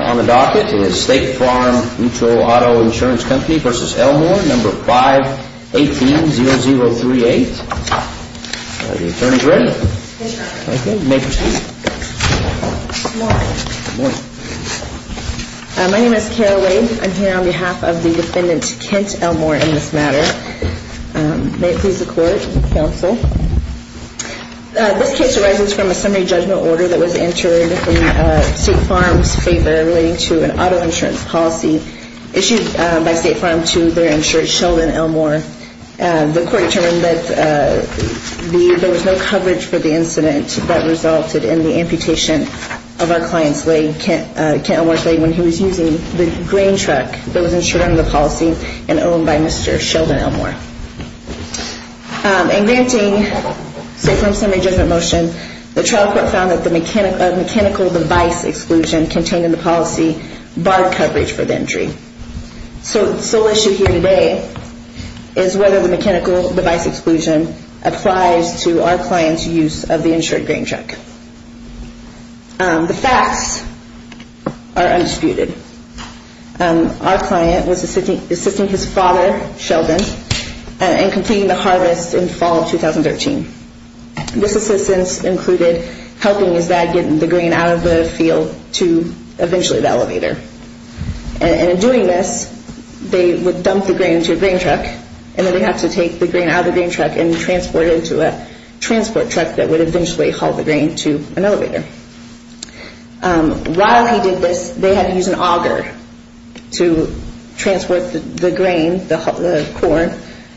on the docket is State Farm Mutual Auto Insurance Company v. Elmore, No. 518-0038. Are the attorneys ready? Yes, sir. Okay, you may proceed. Good morning. Good morning. My name is Kara Wade. I'm here on behalf of the defendant, Kent Elmore, in this matter. May it please the court and counsel. This case arises from a summary judgment order that was entered in State Farm's favor relating to an auto insurance policy issued by State Farm to their insurer, Sheldon Elmore. The court determined that there was no coverage for the incident that resulted in the amputation of our client's leg, Kent Elmore's leg, when he was using the grain truck that was insured under the policy and owned by Mr. Sheldon Elmore. In granting State Farm's summary judgment motion, the trial court found that the mechanical device exclusion contained in the policy barred coverage for the injury. So the sole issue here today is whether the mechanical device exclusion applies to our client's use of the insured grain truck. The facts are undisputed. Our client was assisting his father, Sheldon, in completing the harvest in fall of 2013. This assistance included helping his dad get the grain out of the field to eventually the elevator. And in doing this, they would dump the grain into a grain truck and then they'd have to take the grain out of the grain truck and transport it into a transport truck that would eventually haul the grain to an elevator. While he did this, they had to use an auger to transport the grain, the corn,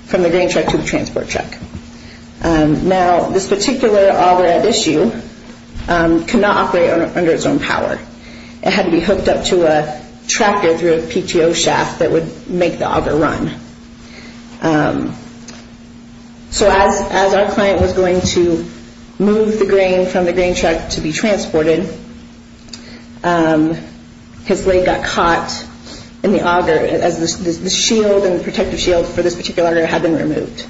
from the grain truck to the transport truck. Now, this particular auger at issue could not operate under its own power. It had to be hooked up to a tractor through a PTO shaft that would make the auger run. So as our client was going to move the grain from the grain truck to be transported, his leg got caught in the auger as the shield and protective shield for this particular auger had been removed.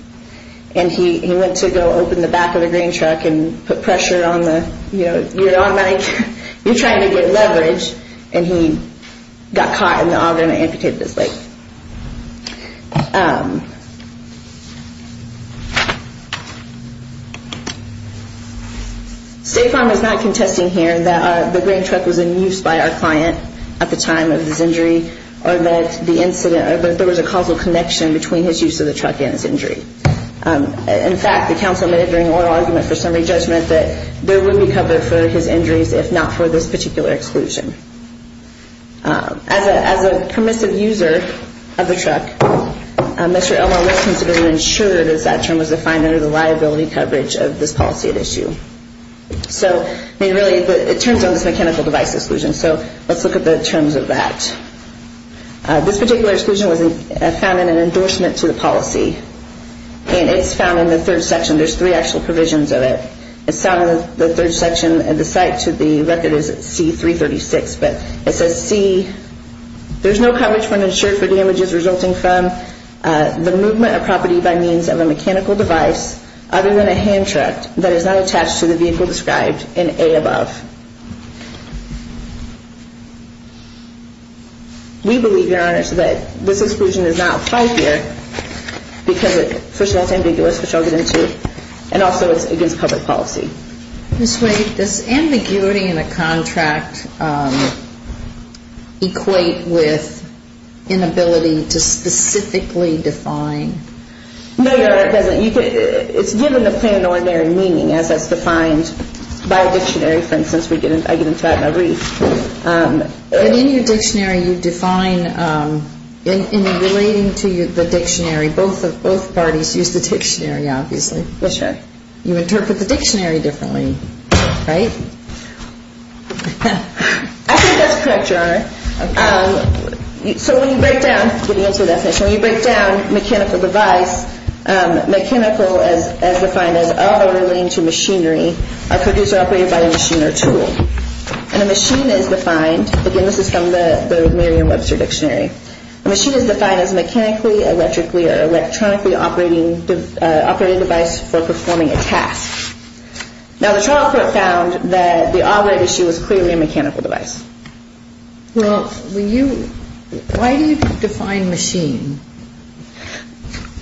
And he went to go open the back of the grain truck and put pressure on the, you know, you're trying to get leverage, and he got caught in the auger and amputated his leg. State Farm is not contesting here that the grain truck was in use by our client at the time of his injury or that the incident, or that there was a causal connection between his use of the truck and his injury. In fact, the council made it during oral argument for summary judgment that there would be cover for his injuries if not for this particular exclusion. As a permissive user of the truck, Mr. Elmore was considered insured as that term was defined under the liability coverage of this policy at issue. So, I mean, really, it turns on this mechanical device exclusion, so let's look at the terms of that. This particular exclusion was found in an endorsement to the policy, and it's found in the third section. There's three actual provisions of it. It's found in the third section, but it says, C, there's no coverage when insured for damages resulting from the movement of property by means of a mechanical device other than a hand truck that is not attached to the vehicle described in A above. We believe, Your Honor, that this exclusion is not five-year because it, first of all, it's ambiguous, which I'll get into, and also it's against public policy. Ms. Wade, does ambiguity in a contract equate with inability to specifically define? No, Your Honor, it doesn't. It's given the planetary meaning as that's defined by a dictionary, for instance. I get into that when I read. But in your dictionary you define, in relating to the dictionary, both parties use the dictionary, obviously. Yes, Your Honor. You interpret the dictionary differently, right? I think that's correct, Your Honor. So when you break down, getting into the definition, when you break down mechanical device, mechanical as defined as all relating to machinery are produced or operated by a machine or tool. And a machine is defined, again, this is from the Merriam-Webster dictionary, a machine is defined as a mechanically, electrically operating device for performing a task. Now, the trial court found that the operating issue was clearly a mechanical device. Well, when you, why do you define machine?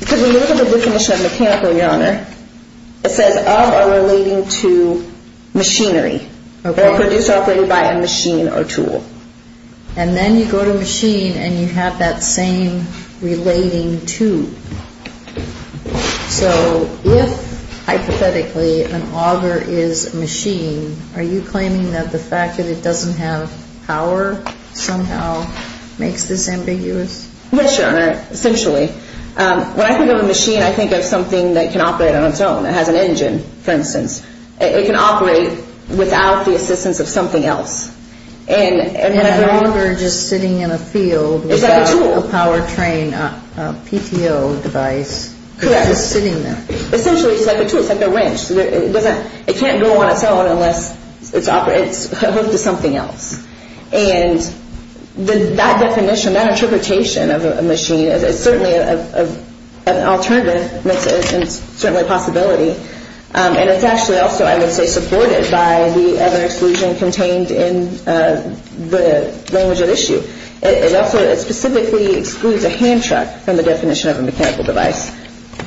Because when you look at the definition of mechanical, Your Honor, it says of or relating to machinery. Okay. They're produced or operated by a machine or tool. And then you go to machine and you have that same relating to. So if, hypothetically, an auger is a machine, are you claiming that the fact that it doesn't have power somehow makes this ambiguous? Yes, Your Honor, essentially. When I think of a machine, I think of something that can operate on its own. It has an engine, for instance. It can operate without the assistance of something else. And an auger just sitting in a field. It's like a tool. A power train, a PTO device. Correct. It's just sitting there. Essentially, it's like a tool. It's like a wrench. It can't go on its own unless it's hooked to something else. And that definition, that interpretation of a machine is certainly an alternative and certainly a possibility. And it's actually also, I would say, supported by the other exclusion contained in the language at issue. It also specifically excludes a hand truck from the definition of a mechanical device.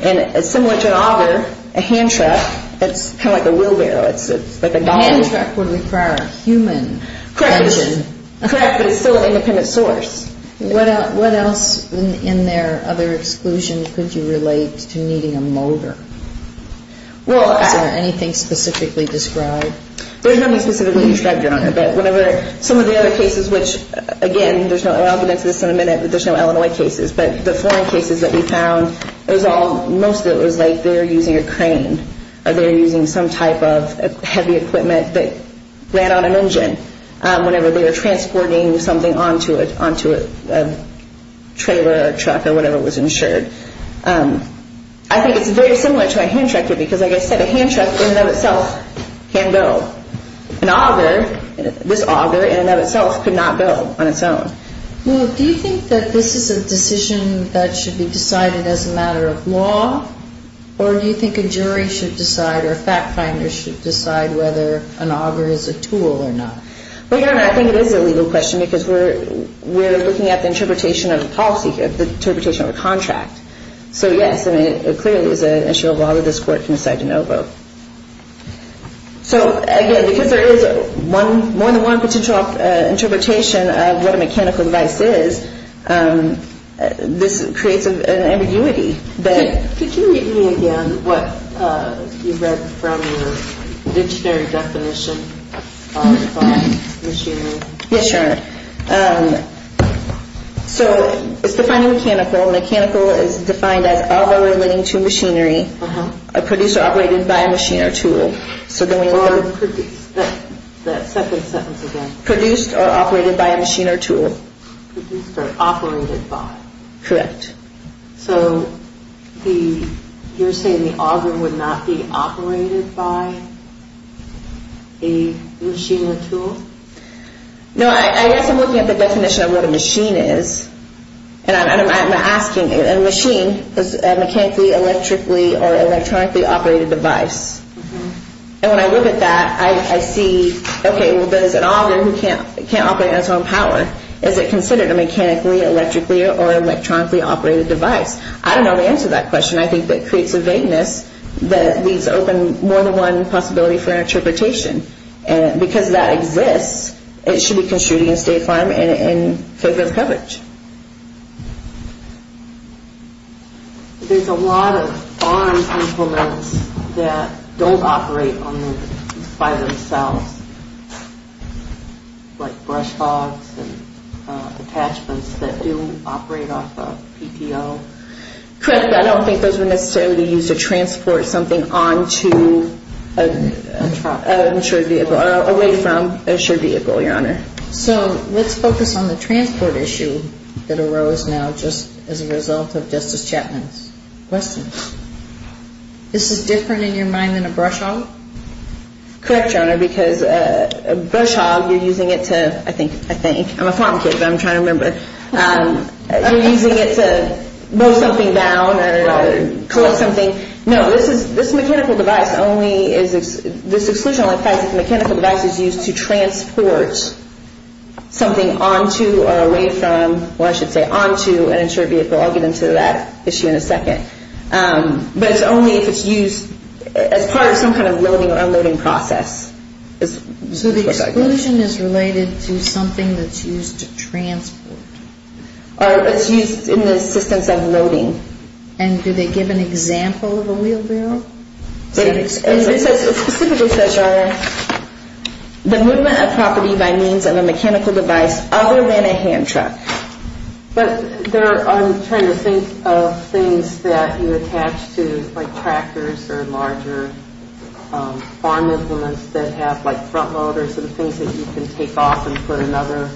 And similar to an auger, a hand truck, it's kind of like a wheelbarrow. It's like a dolly. A hand truck would require a human engine. Correct. But it's still an independent source. What else in their other exclusion could you relate to needing a motor? Well, I can't think of anything specifically described. There's nothing specifically described, Your Honor. But some of the other cases, which again, I'll get into this in a minute, but there's no Illinois cases. But the foreign cases that we found, most of it was like they were using a crane or they were using some type of heavy equipment that ran on an engine whenever they were transporting something onto a trailer or truck or whatever was insured. I think it's very similar to a hand truck because, like I said, a hand truck in and of itself can go. An auger, this auger in and of itself could not go on its own. Well, do you think that this is a decision that should be decided as a matter of law or do you think a jury should decide or a fact finder should decide whether an auger is a tool or not? Well, Your Honor, I think it is a legal question because we're looking at the interpretation of the policy here, the interpretation of a contract. So yes, I mean, it clearly is an issue of law that this Court can decide to no vote. So again, because there is more than one potential interpretation of what a mechanical device is, this creates an ambiguity that... Could you read me again what you read from your dictionary definition of machinery? Yes, Your Honor. So it's defining mechanical. Mechanical is defined as auger relating to machinery produced or operated by a machine or tool. Or produced. That second sentence again. Produced or operated by a machine or tool. Produced or operated by. Correct. So you're saying the auger would not be operated by a machine or tool? No, I guess I'm looking at the definition of what a machine is and I'm asking, a machine is a mechanically, electrically or electronically operated device. And when I look at that, I see, okay, well, there's an auger who can't operate on its own power. Is it considered a mechanically, electrically or electronically operated device? I don't know the answer to that question. I think that creates a vagueness that leaves open more than one possibility for interpretation. And because that exists, it should be construed There's a lot of arm implements that don't operate on their own by themselves. Like brush hogs and attachments that do operate off of PTO. Correct, but I don't think those would necessarily be used to transport something on to an insured vehicle or away from an insured vehicle, Your Honor. So let's focus on the transport issue that arose now just as a result of Justice Chapman's questions. This is different in your mind than a brush hog? Correct, Your Honor, because a brush hog, you're using it to, I think, I'm a farm kid, but I'm trying to remember, you're using it to mow something down or collect something. No, this mechanical device only is, this exclusion only applies if the mechanical device is used to transport something on to or away from, or I should say on to an insured vehicle. I'll get into that issue in a second. But it's only if it's used as part of some kind of loading or unloading process. So the exclusion is related to something that's used to transport? It's used in the assistance of loading. And do they give an example of a wheelbarrow? It specifically says, Your Honor, the movement of property by means of a mechanical device other than a hand truck. But I'm trying to think of things that you attach to like tractors or larger farm implements that have like front loaders and things that you can take off and put another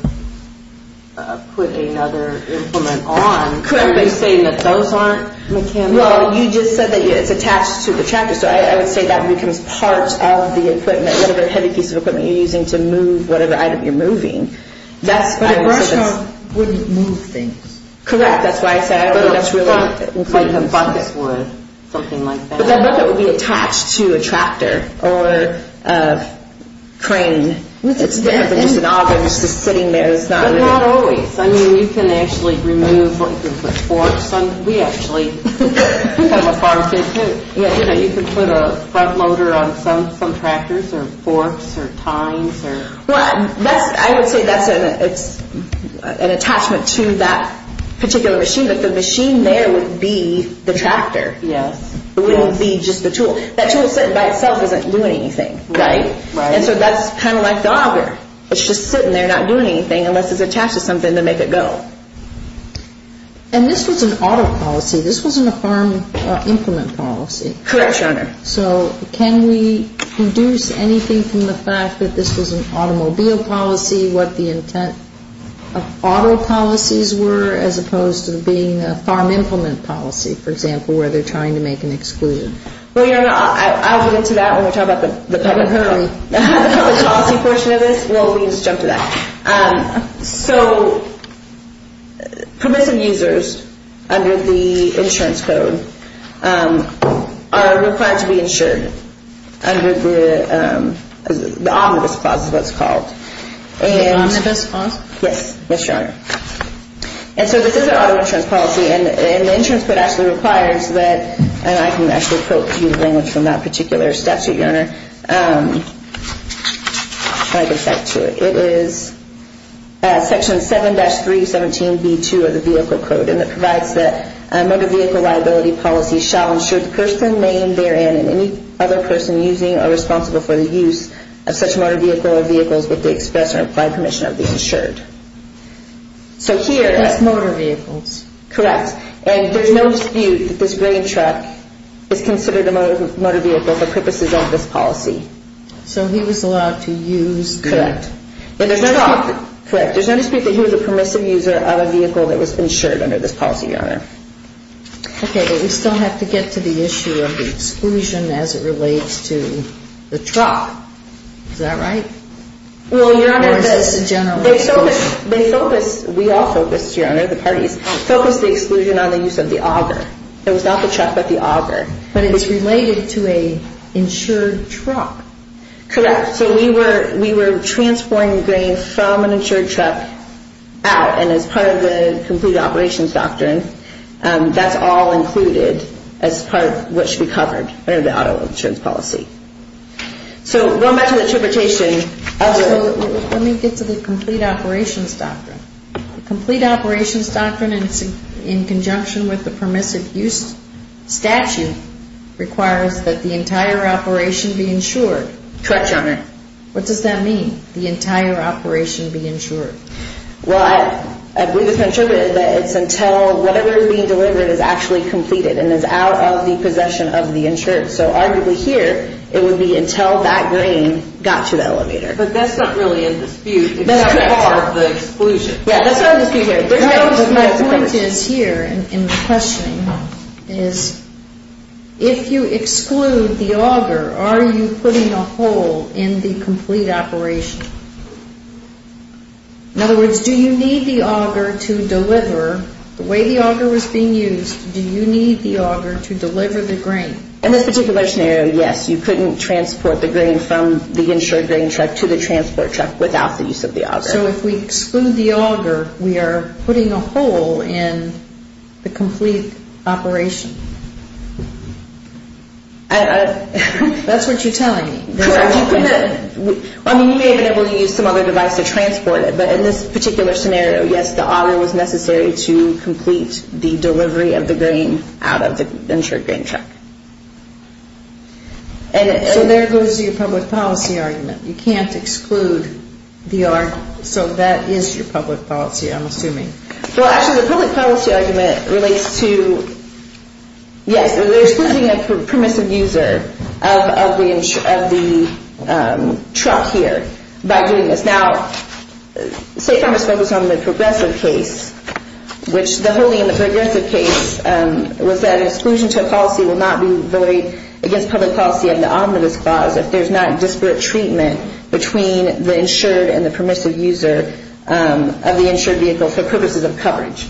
implement on. Correct. Are you saying that those aren't mechanical? Well, you just said that it's attached to the tractor, so I would say that becomes part of the equipment, whatever heavy piece of equipment you're using to move whatever item you're moving. But a brush truck wouldn't move things. Correct, that's why I said I don't think that's really included. Like a bucket would, something like that. But that bucket would be attached to a tractor or a crane. It's better than just an auger just sitting there. But not always. I mean, you can actually remove, you can put forks on. We actually, I'm a farm kid, too. You know, you can put a front loader on some tractors or forks or tines. Well, I would say that's an attachment to that particular machine. But the machine there would be the tractor. Yes. It wouldn't be just the tool. That tool by itself isn't doing anything. Right. And so that's kind of like the auger. It's just sitting there not doing anything unless it's attached to something to make it go. And this was an auto policy. This wasn't a farm implement policy. Correct, Your Honor. So can we deduce anything from the fact that this was an automobile policy, what the intent of auto policies were as opposed to being a farm implement policy, for example, where they're trying to make an exclusion? Well, Your Honor, I'll get into that when we talk about the public policy portion of this. Well, let me just jump to that. So permissive users under the insurance code are required to be insured under the omnibus clause is what it's called. The omnibus clause? Yes, Yes, Your Honor. And so this is an auto insurance policy, and the insurance code actually requires that I can actually quote to you the language from that particular statute, Your Honor. I'll get back to it. It is section 7-317B2 of the vehicle code, and it provides that a motor vehicle liability policy shall insure the person named therein and any other person using or responsible for the use of such motor vehicle or vehicles with the express or implied permission of the insured. So here. That's motor vehicles. Correct. And there's no dispute that this green truck is considered a motor vehicle for purposes of this policy. So he was allowed to use the truck. Correct. There's no dispute that he was a permissive user of a vehicle that was insured under this policy, Your Honor. Okay, but we still have to get to the issue of the exclusion as it relates to the truck. Is that right? Well, Your Honor, they focus, we all focus, Your Honor, the parties focus the exclusion on the use of the auger. It was not the truck but the auger. But it is related to an insured truck. Correct. So we were transporting grain from an insured truck out, and as part of the complete operations doctrine, that's all included as part of what should be covered under the auto insurance policy. So going back to the interpretation of the – Let me get to the complete operations doctrine. The complete operations doctrine in conjunction with the permissive use statute requires that the entire operation be insured. Correct, Your Honor. What does that mean, the entire operation be insured? Well, I believe it's been attributed that it's until whatever is being delivered is actually completed and is out of the possession of the insured. So arguably here, it would be until that grain got to the elevator. But that's not really in dispute. That's not part of the exclusion. Yeah, that's not in dispute here. The point is here in questioning is if you exclude the auger, are you putting a hole in the complete operation? In other words, do you need the auger to deliver? The way the auger was being used, do you need the auger to deliver the grain? In this particular scenario, yes. You couldn't transport the grain from the insured grain truck to the transport truck without the use of the auger. So if we exclude the auger, we are putting a hole in the complete operation? That's what you're telling me. I mean, you may have been able to use some other device to transport it, but in this particular scenario, yes, the auger was necessary to complete the delivery of the grain out of the insured grain truck. So there goes your public policy argument. You can't exclude the auger. So that is your public policy, I'm assuming. Well, actually, the public policy argument relates to, yes, they're excluding a permissive user of the truck here by doing this. Now, State Farmers focused on the progressive case, which the holding in the progressive case was that exclusion to a policy will not be voted against public policy under the Omnibus Clause if there's not disparate treatment between the insured and the permissive user of the insured vehicle for purposes of coverage.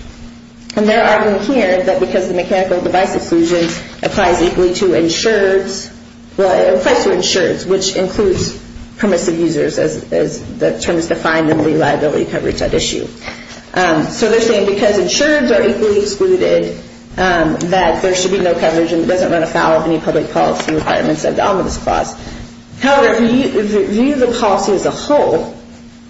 And there are in here that because the mechanical device exclusion applies equally to insureds, well, it applies to insureds, which includes permissive users as the term is defined in the liability coverage at issue. So they're saying because insureds are equally excluded, that there should be no coverage and it doesn't run afoul of any public policy requirements except the Omnibus Clause. However, if you view the policy as a whole,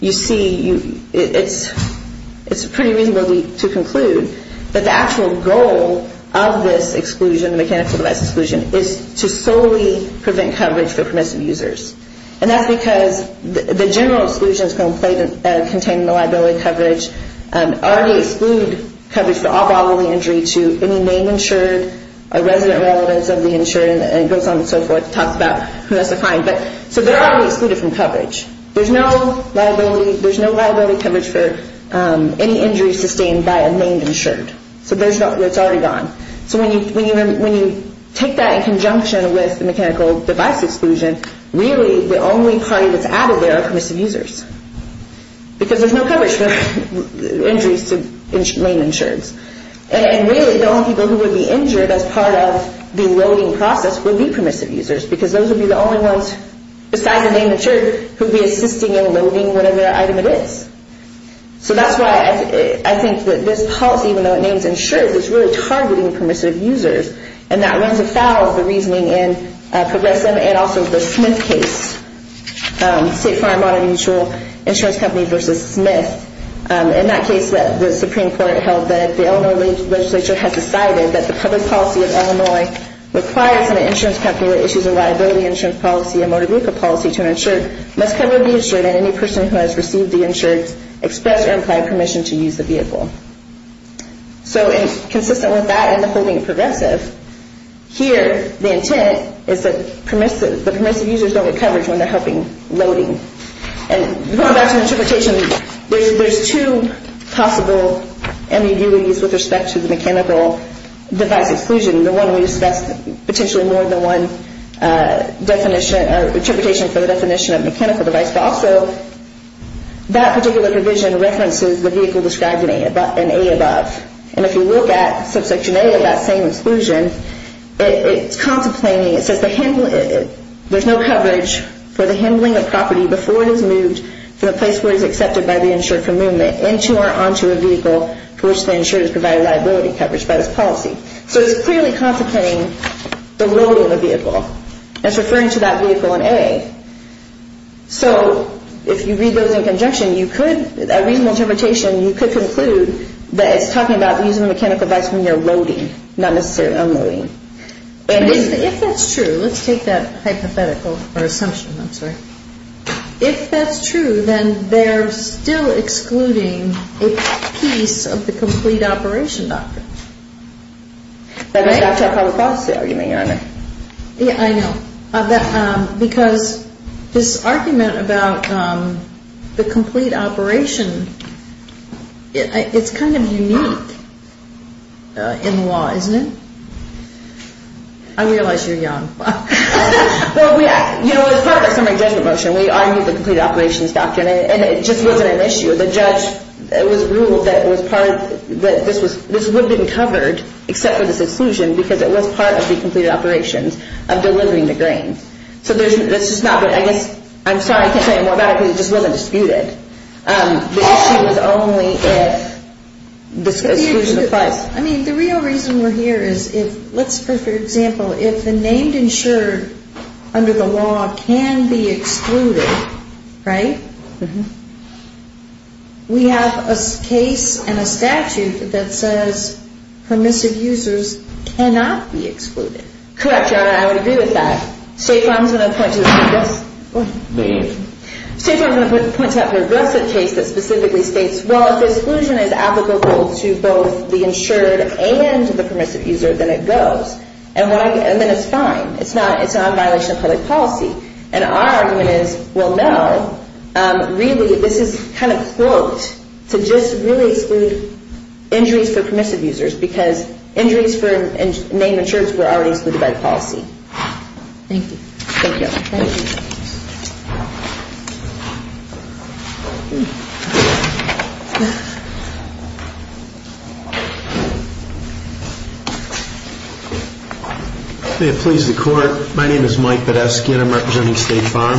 you see it's pretty reasonable to conclude that the actual goal of this exclusion, mechanical device exclusion, is to solely prevent coverage for permissive users. And that's because the general exclusion is going to contain the liability coverage, already exclude coverage for all bodily injury to any main insured, a resident relevance of the insured, and it goes on and so forth. It talks about who has to find. So they're already excluded from coverage. There's no liability coverage for any injury sustained by a main insured. So it's already gone. So when you take that in conjunction with the mechanical device exclusion, really the only party that's added there are permissive users because there's no coverage for injuries to main insureds. And really the only people who would be injured as part of the loading process would be permissive users because those would be the only ones, besides the main insured, who would be assisting in loading whatever item it is. So that's why I think that this policy, even though it names insured, is really targeting permissive users, and that runs afoul of the reasoning in Progressive and also the Smith case, State Farm Modern Mutual Insurance Company versus Smith. In that case, the Supreme Court held that the Illinois legislature had decided that the public policy of Illinois requires an insurance company that issues a liability insurance policy, a motor vehicle policy to an insured, must cover the insured, and any person who has received the insured expressed or implied permission to use the vehicle. So consistent with that and the whole thing in Progressive, here the intent is that the permissive users don't get coverage when they're helping loading. And going back to interpretation, there's two possible ambiguities with respect to the mechanical device exclusion. The one we discussed potentially more than one definition or interpretation for the definition of mechanical device, but also that particular provision references the vehicle described in A above. And if you look at subsection A of that same exclusion, it's contemplating, it says there's no coverage for the handling of property before it is moved from the place where it is accepted by the insured for movement into or onto a vehicle to which the insured is provided liability coverage by this policy. So it's clearly contemplating the loading of the vehicle. It's referring to that vehicle in A. So if you read those in conjunction, you could, a reasonable interpretation, you could conclude that it's talking about using the mechanical device when you're loading, not necessarily unloading. But if that's true, let's take that hypothetical or assumption, I'm sorry. If that's true, then they're still excluding a piece of the complete operation doctrine. That's our public policy argument, Your Honor. Yeah, I know. Because this argument about the complete operation, it's kind of unique in the law, isn't it? I realize you're young. Well, yeah, you know, it was part of the summary judgment motion. We argued the completed operations doctrine, and it just wasn't an issue. The judge ruled that this would have been covered except for this exclusion because it was part of the completed operations of delivering the grain. So it's just not, but I guess, I'm sorry, I can't say it more about it because it just wasn't disputed. The issue was only if this exclusion applies. Well, I mean, the real reason we're here is if, let's, for example, if the named insured under the law can be excluded, right, we have a case and a statute that says permissive users cannot be excluded. Correct, Your Honor. I would agree with that. State Farm's going to point to the aggressive case that specifically states, well, if the exclusion is applicable to both the insured and the permissive user, then it goes. And then it's fine. It's not a violation of public policy. And our argument is, well, no, really this is kind of cloaked to just really exclude injuries for permissive users because injuries for named insureds were already excluded by the policy. Thank you. Thank you. Thank you. Thank you. May it please the Court. My name is Mike Badesky, and I'm representing State Farm.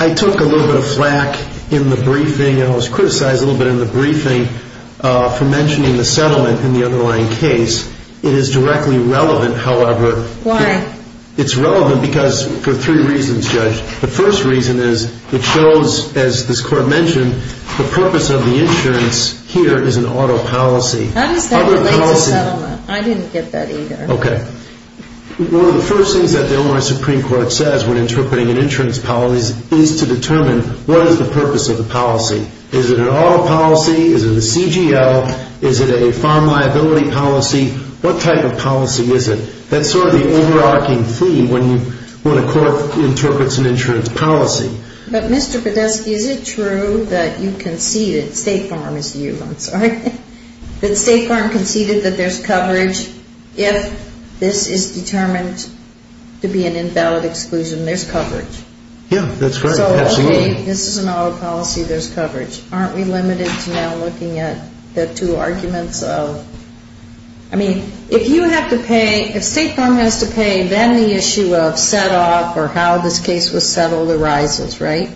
I took a little bit of flack in the briefing, and I was criticized a little bit in the briefing, for mentioning the settlement in the underlying case. It is directly relevant, however. Why? It's relevant because for three reasons, Judge. The first reason is it shows, as this Court mentioned, the purpose of the insurance here is an auto policy. How does that relate to settlement? I didn't get that either. Okay. One of the first things that the Illinois Supreme Court says when interpreting an insurance policy is to determine what is the purpose of the policy. Is it an auto policy? Is it a CGL? Is it a farm liability policy? What type of policy is it? That's sort of the overarching theme when a court interprets an insurance policy. But, Mr. Badesky, is it true that you conceded, State Farm is you, I'm sorry, that State Farm conceded that there's coverage if this is determined to be an invalid exclusion? There's coverage. Yeah, that's right. Absolutely. There's coverage. Aren't we limited to now looking at the two arguments of, I mean, if you have to pay, if State Farm has to pay, then the issue of set-off or how this case was settled arises, right?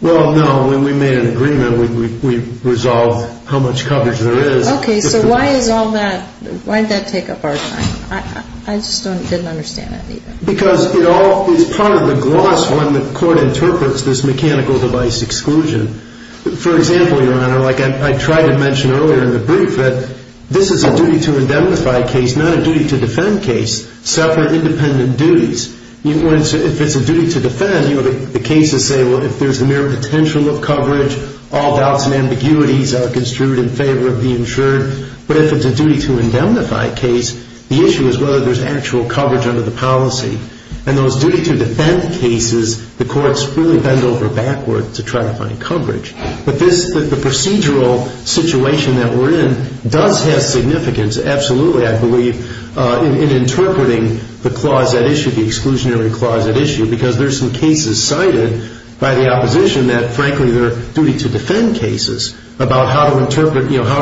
Well, no. When we made an agreement, we resolved how much coverage there is. Okay. So why is all that, why did that take up our time? I just didn't understand it either. Because it all is part of the gloss when the court interprets this mechanical device exclusion. For example, Your Honor, like I tried to mention earlier in the brief that this is a duty-to-indemnify case, not a duty-to-defend case. Separate, independent duties. If it's a duty-to-defend, the cases say, well, if there's a mere potential of coverage, all doubts and ambiguities are construed in favor of the insured. But if it's a duty-to-indemnify case, the issue is whether there's actual coverage under the policy. And those duty-to-defend cases, the courts really bend over backward to try to find coverage. But the procedural situation that we're in does have significance, absolutely, I believe, in interpreting the clause at issue, the exclusionary clause at issue, because there's some cases cited by the opposition that, frankly, they're duty-to-defend cases about how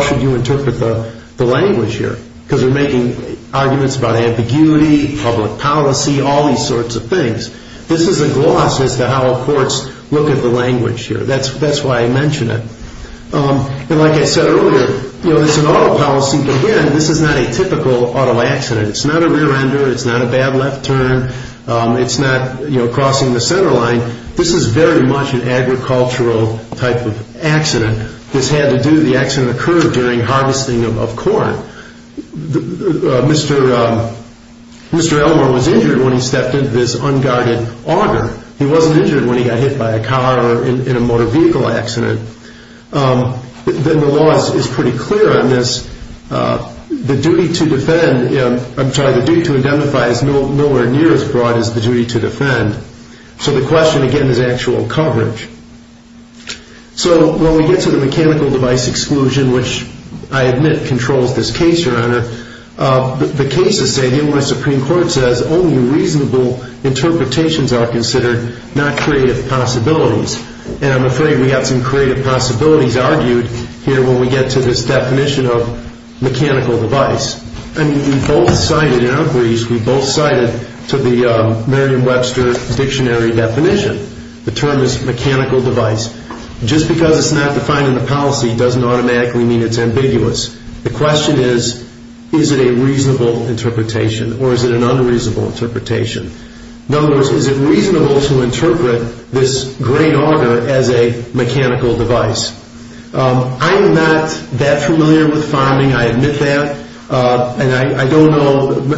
should you interpret the language here, because they're making arguments about ambiguity, public policy, all these sorts of things. This is a gloss as to how courts look at the language here. That's why I mention it. And like I said earlier, it's an auto policy, but again, this is not a typical auto accident. It's not a rear-ender. It's not a bad left turn. It's not crossing the center line. This is very much an agricultural type of accident. This had to do, the accident occurred during harvesting of corn. Mr. Elmore was injured when he stepped into this unguarded auger. He wasn't injured when he got hit by a car or in a motor vehicle accident. Then the law is pretty clear on this. The duty-to-defend, I'm sorry, the duty-to-indemnify is nowhere near as broad as the duty-to-defend. So the question, again, is actual coverage. So when we get to the mechanical device exclusion, which I admit controls this case, Your Honor, the cases say, even when the Supreme Court says, only reasonable interpretations are considered, not creative possibilities. And I'm afraid we've got some creative possibilities argued here when we get to this definition of mechanical device. I mean, we both cited in our briefs, we both cited to the Merriam-Webster dictionary definition. The term is mechanical device. Just because it's not defined in the policy doesn't automatically mean it's ambiguous. The question is, is it a reasonable interpretation or is it an unreasonable interpretation? In other words, is it reasonable to interpret this great auger as a mechanical device? I'm not that familiar with farming. I admit that. And I don't know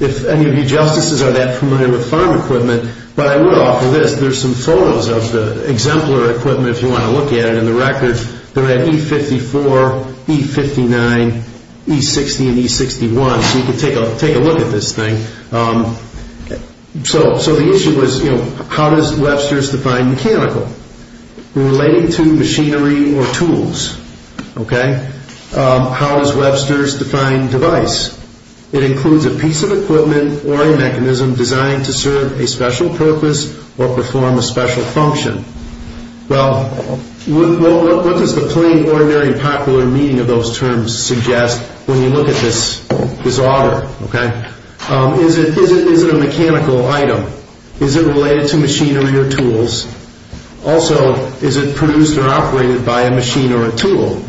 if any of you justices are that familiar with farm equipment. But I will offer this. There's some photos of the exemplar equipment, if you want to look at it, in the records. They're at E54, E59, E60, and E61. So you can take a look at this thing. So the issue was, how does Webster's define mechanical? Relating to machinery or tools. How does Webster's define device? It includes a piece of equipment or a mechanism designed to serve a special purpose or perform a special function. Well, what does the plain, ordinary, and popular meaning of those terms suggest when you look at this auger? Is it a mechanical item? Is it related to machinery or tools? Also, is it produced or operated by a machine or a tool?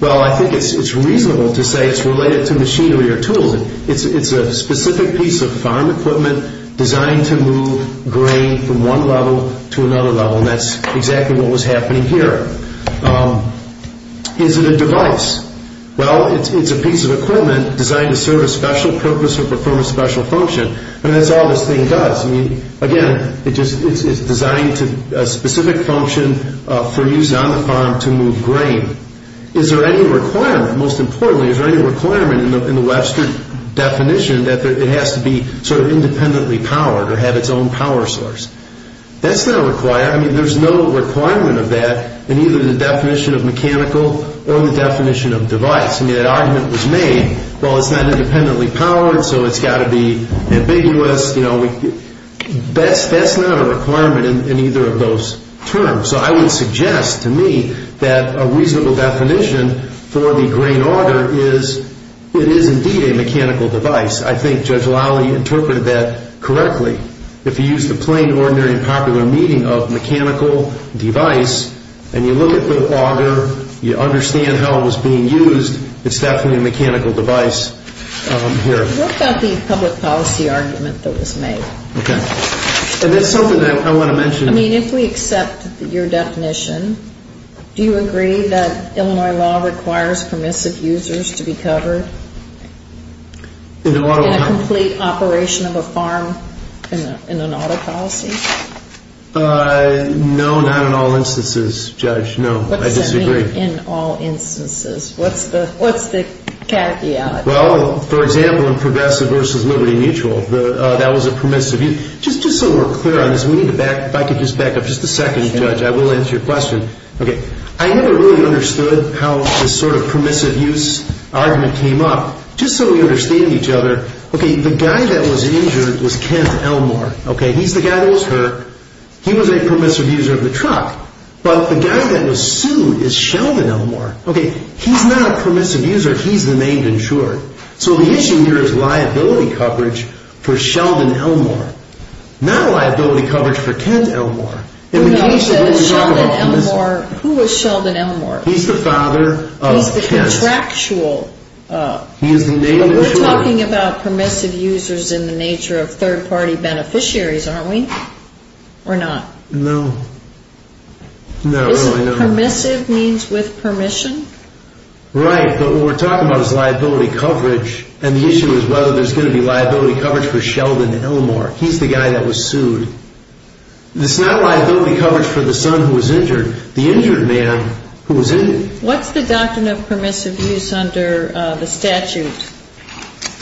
Well, I think it's reasonable to say it's related to machinery or tools. It's a specific piece of farm equipment designed to move grain from one level to another level. And that's exactly what was happening here. Is it a device? Well, it's a piece of equipment designed to serve a special purpose or perform a special function. I mean, that's all this thing does. Again, it's designed to a specific function for use on the farm to move grain. Is there any requirement, most importantly, is there any requirement in the Webster definition that it has to be sort of independently powered or have its own power source? That's not required. I mean, there's no requirement of that in either the definition of mechanical or the definition of device. I mean, that argument was made. Well, it's not independently powered, so it's got to be ambiguous. You know, that's not a requirement in either of those terms. So I would suggest to me that a reasonable definition for the grain auger is it is indeed a mechanical device. I think Judge Lally interpreted that correctly. If you use the plain, ordinary, and popular meaning of mechanical device and you look at the auger, you understand how it was being used, it's definitely a mechanical device here. What about the public policy argument that was made? Okay. And that's something that I want to mention. I mean, if we accept your definition, do you agree that Illinois law requires permissive users to be covered in a complete operation of a farm in an auto policy? No, not in all instances, Judge, no. I disagree. What does that mean, in all instances? What's the caveat? Well, for example, in Progressive v. Liberty Mutual, that was a permissive use. Just so we're clear on this, if I could just back up just a second, Judge, I will answer your question. Okay. I never really understood how this sort of permissive use argument came up. Just so we understand each other, okay, the guy that was injured was Kent Elmore. Okay. He's the guy that was hurt. He was a permissive user of the truck. But the guy that was sued is Sheldon Elmore. Okay. He's not a permissive user. He's the named insurer. So the issue here is liability coverage for Sheldon Elmore, not liability coverage for Kent Elmore. Who was Sheldon Elmore? He's the father of Kent. He's the contractual. We're talking about permissive users in the nature of third-party beneficiaries, aren't we, or not? No. Not really, no. Permissive means with permission? Right, but what we're talking about is liability coverage, and the issue is whether there's going to be liability coverage for Sheldon Elmore. He's the guy that was sued. It's not liability coverage for the son who was injured, the injured man who was injured. What's the doctrine of permissive use under the statute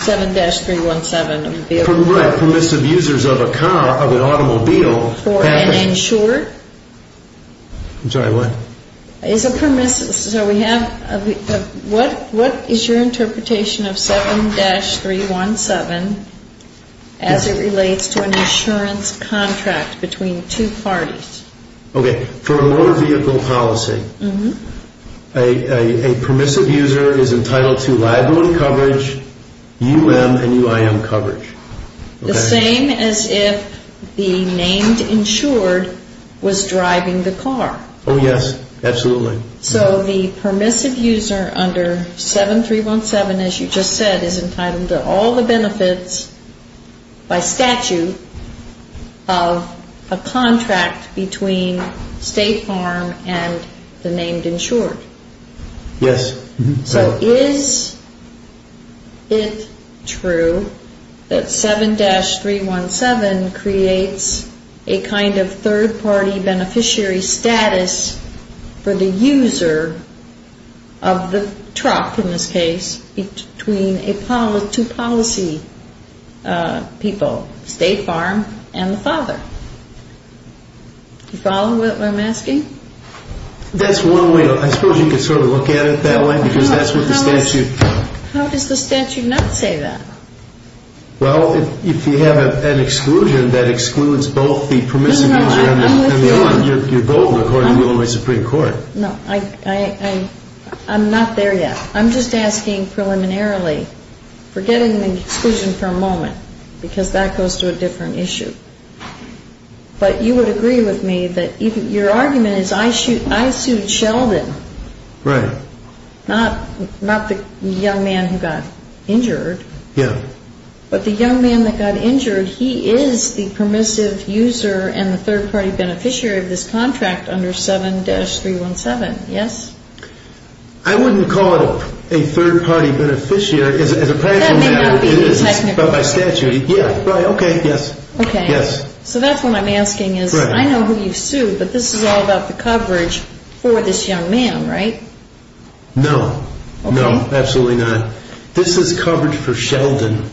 7-317? Right, permissive users of a car, of an automobile. For an insurer? I'm sorry, what? Is a permissive, so we have, what is your interpretation of 7-317 as it relates to an insurance contract between two parties? Okay. For a motor vehicle policy, a permissive user is entitled to liability coverage, U.M. and U.I.M. coverage. The same as if the named insured was driving the car. Oh, yes, absolutely. So the permissive user under 7-317, as you just said, is entitled to all the benefits by statute of a contract between State Farm and the named insured. Yes. So is it true that 7-317 creates a kind of third-party beneficiary status for the user of the truck, in this case, between two policy people, State Farm and the father? Do you follow what I'm asking? That's one way, I suppose you could sort of look at it that way, because that's what the statute. How does the statute not say that? Well, if you have an exclusion that excludes both the permissive user and the owner, you're voting according to Illinois Supreme Court. No, I'm not there yet. I'm just asking preliminarily, forgetting the exclusion for a moment, because that goes to a different issue. But you would agree with me that your argument is I sued Sheldon. Right. Not the young man who got injured. Yeah. But the young man that got injured, he is the permissive user and the third-party beneficiary of this contract under 7-317, yes? I wouldn't call it a third-party beneficiary. As a practical matter, it is, but by statute, yeah, right, okay, yes. Okay, so that's what I'm asking is, I know who you sued, but this is all about the coverage for this young man, right? No, no, absolutely not. This is coverage for Sheldon.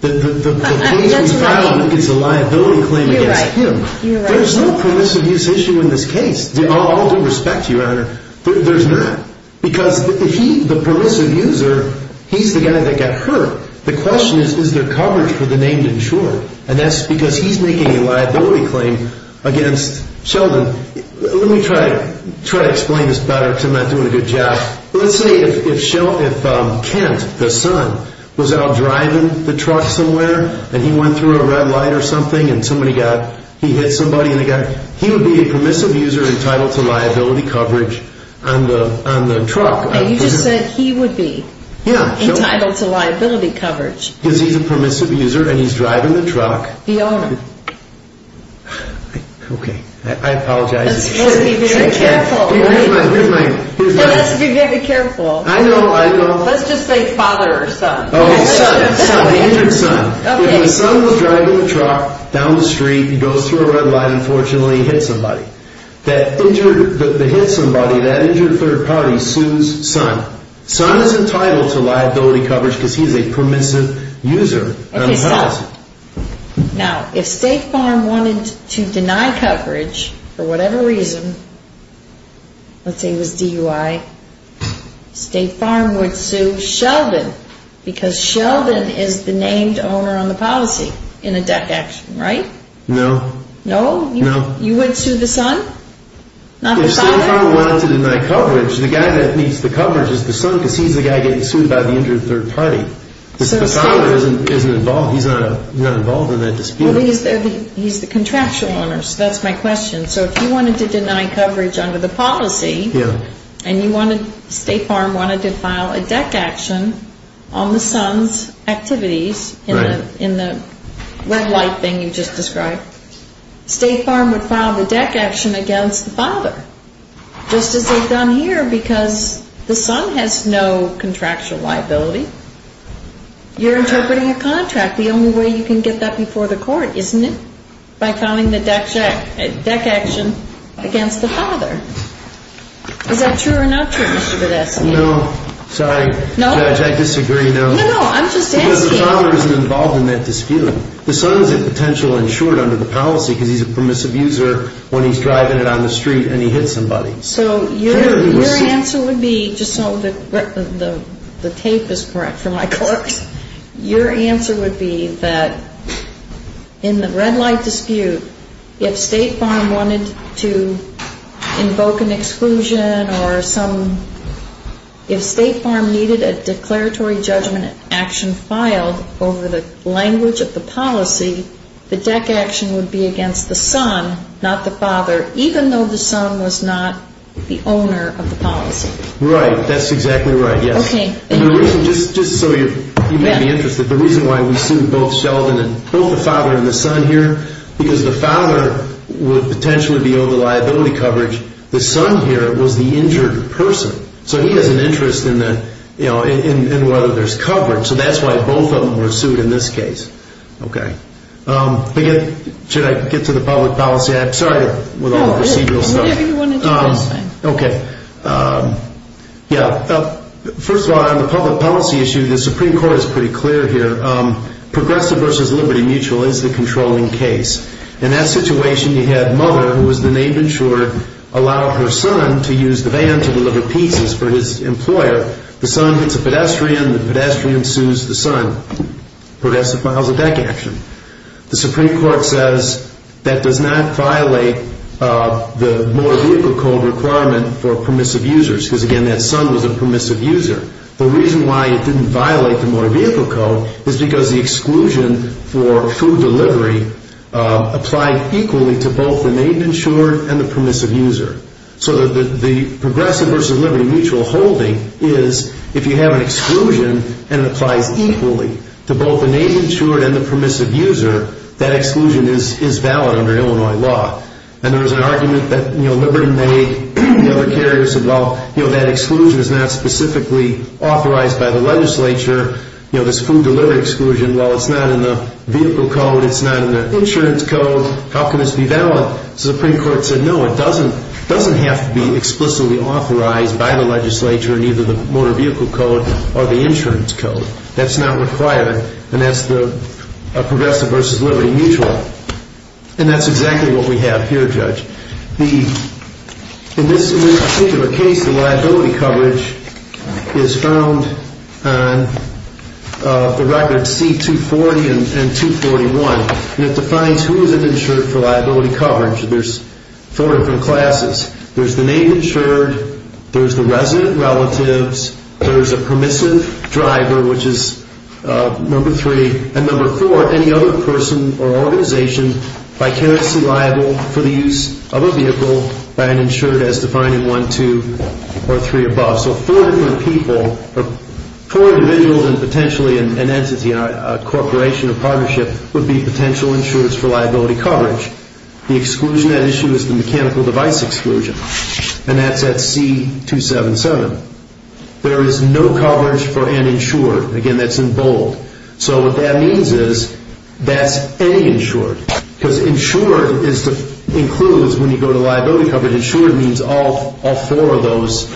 That's right. The case we filed is a liability claim against him. You're right, you're right. There's no permissive use issue in this case. I'll do respect to you, Your Honor. There's not, because he, the permissive user, he's the guy that got hurt. The question is, is there coverage for the named insurer? And that's because he's making a liability claim against Sheldon. Let me try to explain this better because I'm not doing a good job. Let's say if Kent, the son, was out driving the truck somewhere and he went through a red light or something and he hit somebody, he would be a permissive user entitled to liability coverage on the truck. Okay, you just said he would be entitled to liability coverage. Because he's a permissive user and he's driving the truck. The owner. Okay, I apologize. You're supposed to be very careful. Here's my, here's my, here's my. You're supposed to be very careful. I know, I know. Let's just say father or son. Okay, son, son, the injured son. Okay. If the son was driving the truck down the street, he goes through a red light, unfortunately he hit somebody. That injured, that hit somebody, that injured third party sues son. Son is entitled to liability coverage because he's a permissive user. Okay, stop. Now, if State Farm wanted to deny coverage for whatever reason, let's say it was DUI, State Farm would sue Sheldon. Because Sheldon is the named owner on the policy in a DEC action, right? No. No? No. You would sue the son? Not the father? If State Farm wanted to deny coverage, the guy that needs the coverage is the son because he's the guy getting sued by the injured third party. If the father isn't involved, he's not involved in that dispute. Well, he's the contractual owner, so that's my question. So if you wanted to deny coverage under the policy and you wanted, State Farm wanted to file a DEC action on the son's activities in the red light thing you just described, State Farm would file the DEC action against the father, just as they've done here because the son has no contractual liability. You're interpreting a contract. The only way you can get that before the court, isn't it? By filing the DEC action against the father. Is that true or not true, Mr. Videsky? No. Sorry. Judge, I disagree, no. No, no, I'm just asking. Because the father isn't involved in that dispute. The son's a potential insured under the policy because he's a permissive user when he's driving it on the street and he hits somebody. So your answer would be, just so the tape is correct for my court, your answer would be that in the red light dispute, if State Farm wanted to invoke an exclusion or some, if State Farm needed a declaratory judgment action filed over the language of the policy, the DEC action would be against the son, not the father, even though the son was not the owner of the policy. Right. That's exactly right, yes. Okay. Just so you may be interested, the reason why we sued both Sheldon and both the father and the son here, because the father would potentially be over liability coverage. The son here was the injured person. So he has an interest in whether there's coverage. So that's why both of them were sued in this case. Okay. Should I get to the public policy? I'm sorry with all the procedural stuff. Whatever you want to do. Okay. Yeah. First of all, on the public policy issue, the Supreme Court is pretty clear here. Progressive versus Liberty Mutual is the controlling case. In that situation, you had mother, who was the name insured, allow her son to use the van to deliver pieces for his employer. The son hits a pedestrian. The pedestrian sues the son. Progressive files a DEC action. The Supreme Court says that does not violate the motor vehicle code requirement for permissive users, because, again, that son was a permissive user. The reason why it didn't violate the motor vehicle code is because the exclusion for food delivery applied equally to both the name insured and the permissive user. So the Progressive versus Liberty Mutual holding is if you have an exclusion and it applies equally to both the name insured and the permissive user, that exclusion is valid under Illinois law. And there was an argument that Liberty made. The other carriers said, well, that exclusion is not specifically authorized by the legislature. This food delivery exclusion, well, it's not in the vehicle code. It's not in the insurance code. How can this be valid? Well, the Supreme Court said, no, it doesn't have to be explicitly authorized by the legislature in either the motor vehicle code or the insurance code. That's not required. And that's the Progressive versus Liberty Mutual. And that's exactly what we have here, Judge. In this particular case, the liability coverage is found on the record C240 and 241. And it defines who is insured for liability coverage. There's four different classes. There's the name insured. There's the resident relatives. There's a permissive driver, which is number three. And number four, any other person or organization vicariously liable for the use of a vehicle by an insured as defined in one, two, or three above. So four different people or four individuals and potentially an entity, a corporation or partnership would be potential insurers for liability coverage. The exclusion at issue is the mechanical device exclusion. And that's at C277. There is no coverage for an insured. Again, that's in bold. So what that means is that's any insured. Because insured includes, when you go to liability coverage, insured means all four of those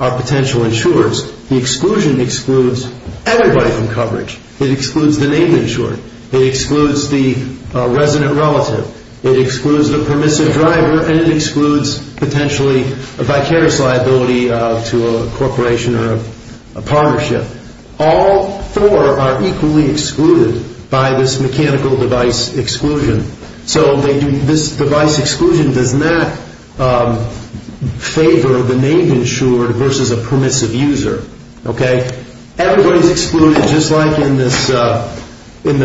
are potential insurers. The exclusion excludes everybody from coverage. It excludes the name insured. It excludes the resident relative. It excludes the permissive driver. And it excludes potentially a vicarious liability to a corporation or a partnership. All four are equally excluded by this mechanical device exclusion. So this device exclusion does not favor the name insured versus a permissive user. Okay? Everybody's excluded just like in the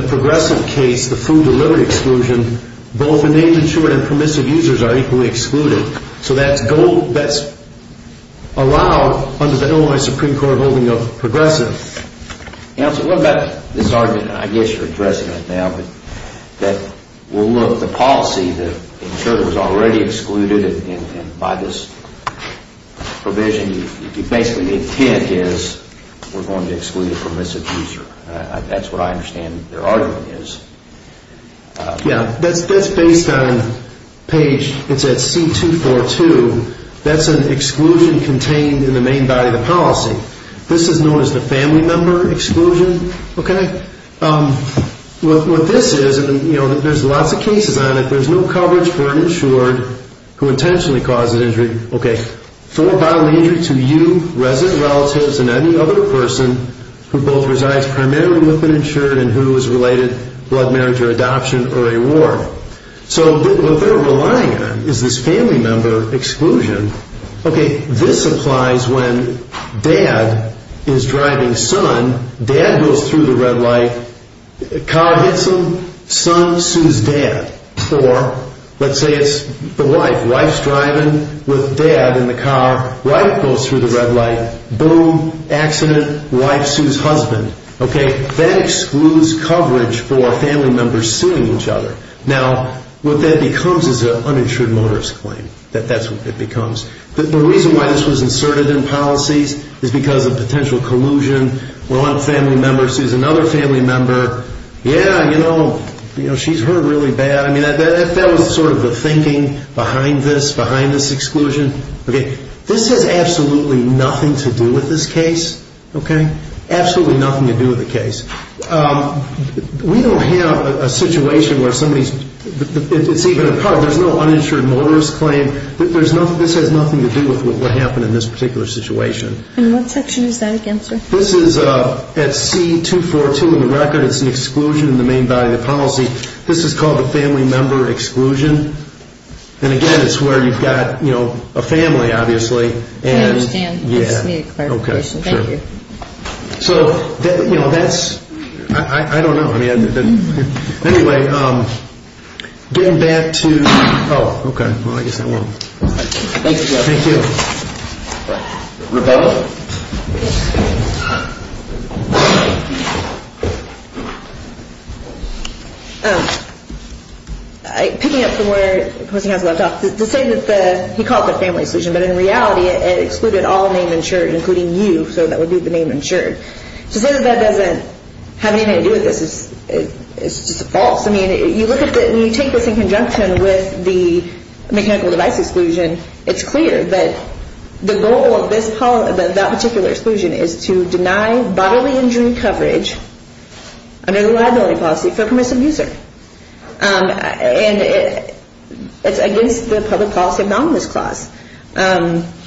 Progressive case, the food delivery exclusion. Both the name insured and permissive users are equally excluded. So that's allowed under the Illinois Supreme Court holding of Progressive. Counsel, what about this argument? I guess you're addressing it now. But we'll look at the policy that insured was already excluded. And by this provision, basically the intent is we're going to exclude the permissive user. That's what I understand their argument is. Yeah, that's based on page, it's at C242. That's an exclusion contained in the main body of the policy. This is known as the family member exclusion. Okay? What this is, and, you know, there's lots of cases on it, there's no coverage for an insured who intentionally causes injury. Okay. For bodily injury to you, resident relatives, and any other person who both resides primarily with an insured and who is related, blood marriage or adoption or a war. So what they're relying on is this family member exclusion. Okay. This applies when dad is driving son. Dad goes through the red light. Car hits him. Son sues dad. Or let's say it's the wife. Wife's driving with dad in the car. Wife goes through the red light. Boom. Accident. Wife sues husband. Okay. That excludes coverage for family members suing each other. Now, what that becomes is an uninsured motorist claim. That's what it becomes. The reason why this was inserted in policies is because of potential collusion. One family member sues another family member. Yeah, you know, she's hurt really bad. I mean, that was sort of the thinking behind this, behind this exclusion. Okay. This has absolutely nothing to do with this case. Okay. Absolutely nothing to do with the case. We don't have a situation where somebody's, it's even a part, there's no uninsured motorist claim. This has nothing to do with what happened in this particular situation. And what section is that against her? This is at C-242 in the record. It's an exclusion in the main body of the policy. This is called a family member exclusion. And, again, it's where you've got, you know, a family, obviously. I understand. Yeah. I just need a clarification. Thank you. So, you know, that's, I don't know. Anyway, getting back to, oh, okay. Well, I guess I won't. Thank you. Thank you. Rebecca? Yes. Picking up from where the person has left off, to say that the, he called it the family exclusion, but in reality it excluded all named insured, including you. So that would be the name insured. To say that that doesn't have anything to do with this is just false. I mean, you look at the, when you take this in conjunction with the mechanical device exclusion, it's clear that the goal of this, that particular exclusion, is to deny bodily injury coverage under the liability policy for a permissive user. And it's against the public policy abnominus clause. Like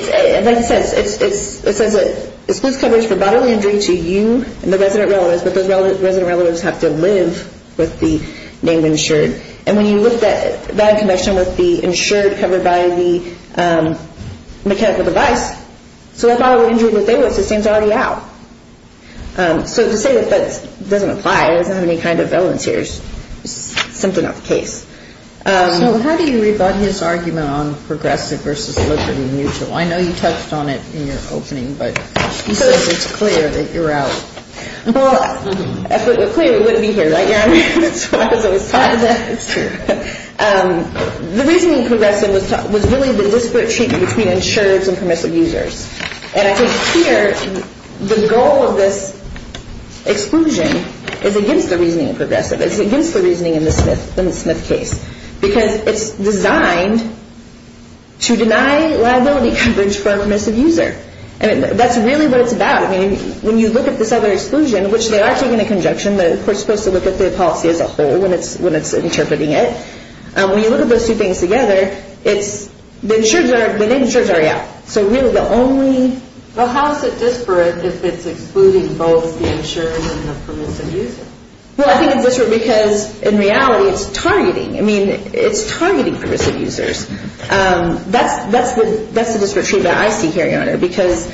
it says, it says it excludes coverage for bodily injury to you and the resident relatives, but those resident relatives have to live with the name insured. And when you look at that in connection with the insured covered by the mechanical device, so that bodily injury that they would sustain is already out. So to say that that doesn't apply, it doesn't have any kind of relevance here, is simply not the case. So how do you rebut his argument on progressive versus liquid and mutual? I know you touched on it in your opening, but he says it's clear that you're out. Well, if it were clear, we wouldn't be here, right, Your Honor? That's what I was always talking about. The reasoning in progressive was really the disparate treatment between insureds and permissive users. And I think here the goal of this exclusion is against the reasoning in progressive. It's against the reasoning in the Smith case, because it's designed to deny liability coverage for a permissive user. And that's really what it's about. I mean, when you look at this other exclusion, which they are taking a conjunction, but we're supposed to look at the policy as a whole when it's interpreting it. When you look at those two things together, it's the insureds are out. So really the only... Well, how is it disparate if it's excluding both the insured and the permissive user? Well, I think it's disparate because in reality it's targeting. I mean, it's targeting permissive users. That's the disparate treatment I see here, Your Honor, because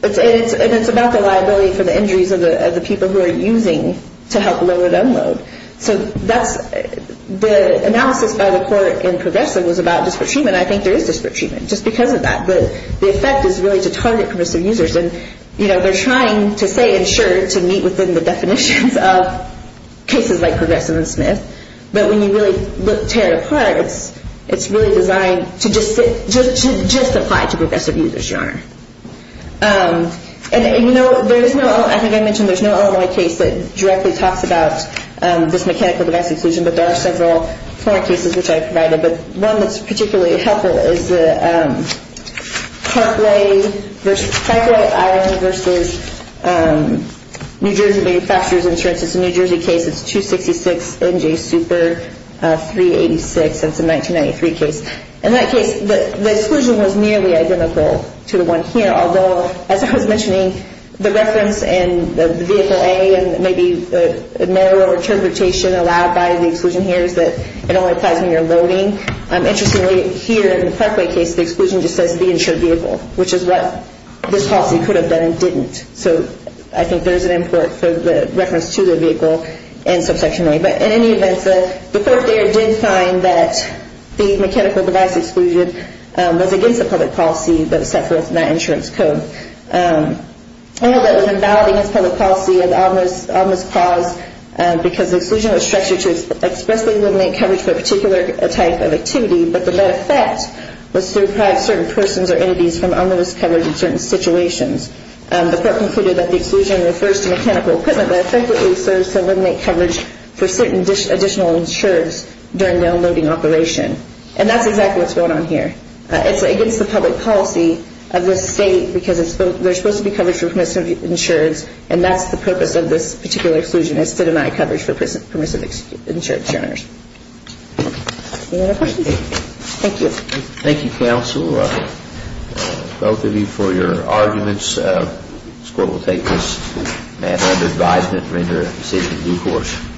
it's about the liability for the injuries of the people who are using to help lower the load. So the analysis by the court in progressive was about disparate treatment. I think there is disparate treatment just because of that. The effect is really to target permissive users. And they're trying to say insured to meet within the definitions of cases like progressive and Smith. But when you really tear it apart, it's really designed to just apply to progressive users, Your Honor. And, you know, there is no... I think I mentioned there's no other case that directly talks about this mechanical domestic exclusion, but there are several cases which I provided. But one that's particularly helpful is the Parkway versus... It's a New Jersey case. It's 266 NJ Super 386. It's a 1993 case. In that case, the exclusion was nearly identical to the one here, although, as I was mentioning, the reference in the vehicle A and maybe a narrow interpretation allowed by the exclusion here is that it only applies when you're loading. Interestingly, here in the Parkway case, the exclusion just says the insured vehicle, which is what this policy could have done and didn't. So I think there's an import for the reference to the vehicle in subsection A. But in any event, the court there did find that the mechanical device exclusion was against the public policy that was set forth in that insurance code. All that was invalid against public policy of ominous cause because the exclusion was structured to expressly eliminate coverage for a particular type of activity, but the net effect was to deprive certain persons or entities from ominous coverage in certain situations. The court concluded that the exclusion refers to mechanical equipment that effectively serves to eliminate coverage for certain additional insureds during downloading operation. And that's exactly what's going on here. It's against the public policy of the state because they're supposed to be covered for permissive insureds, and that's the purpose of this particular exclusion is to deny coverage for permissive insured insurers. Any other questions? Thank you. Thank you, counsel. Both of you for your arguments. This court will take this matter under advisement and render a decision in due course.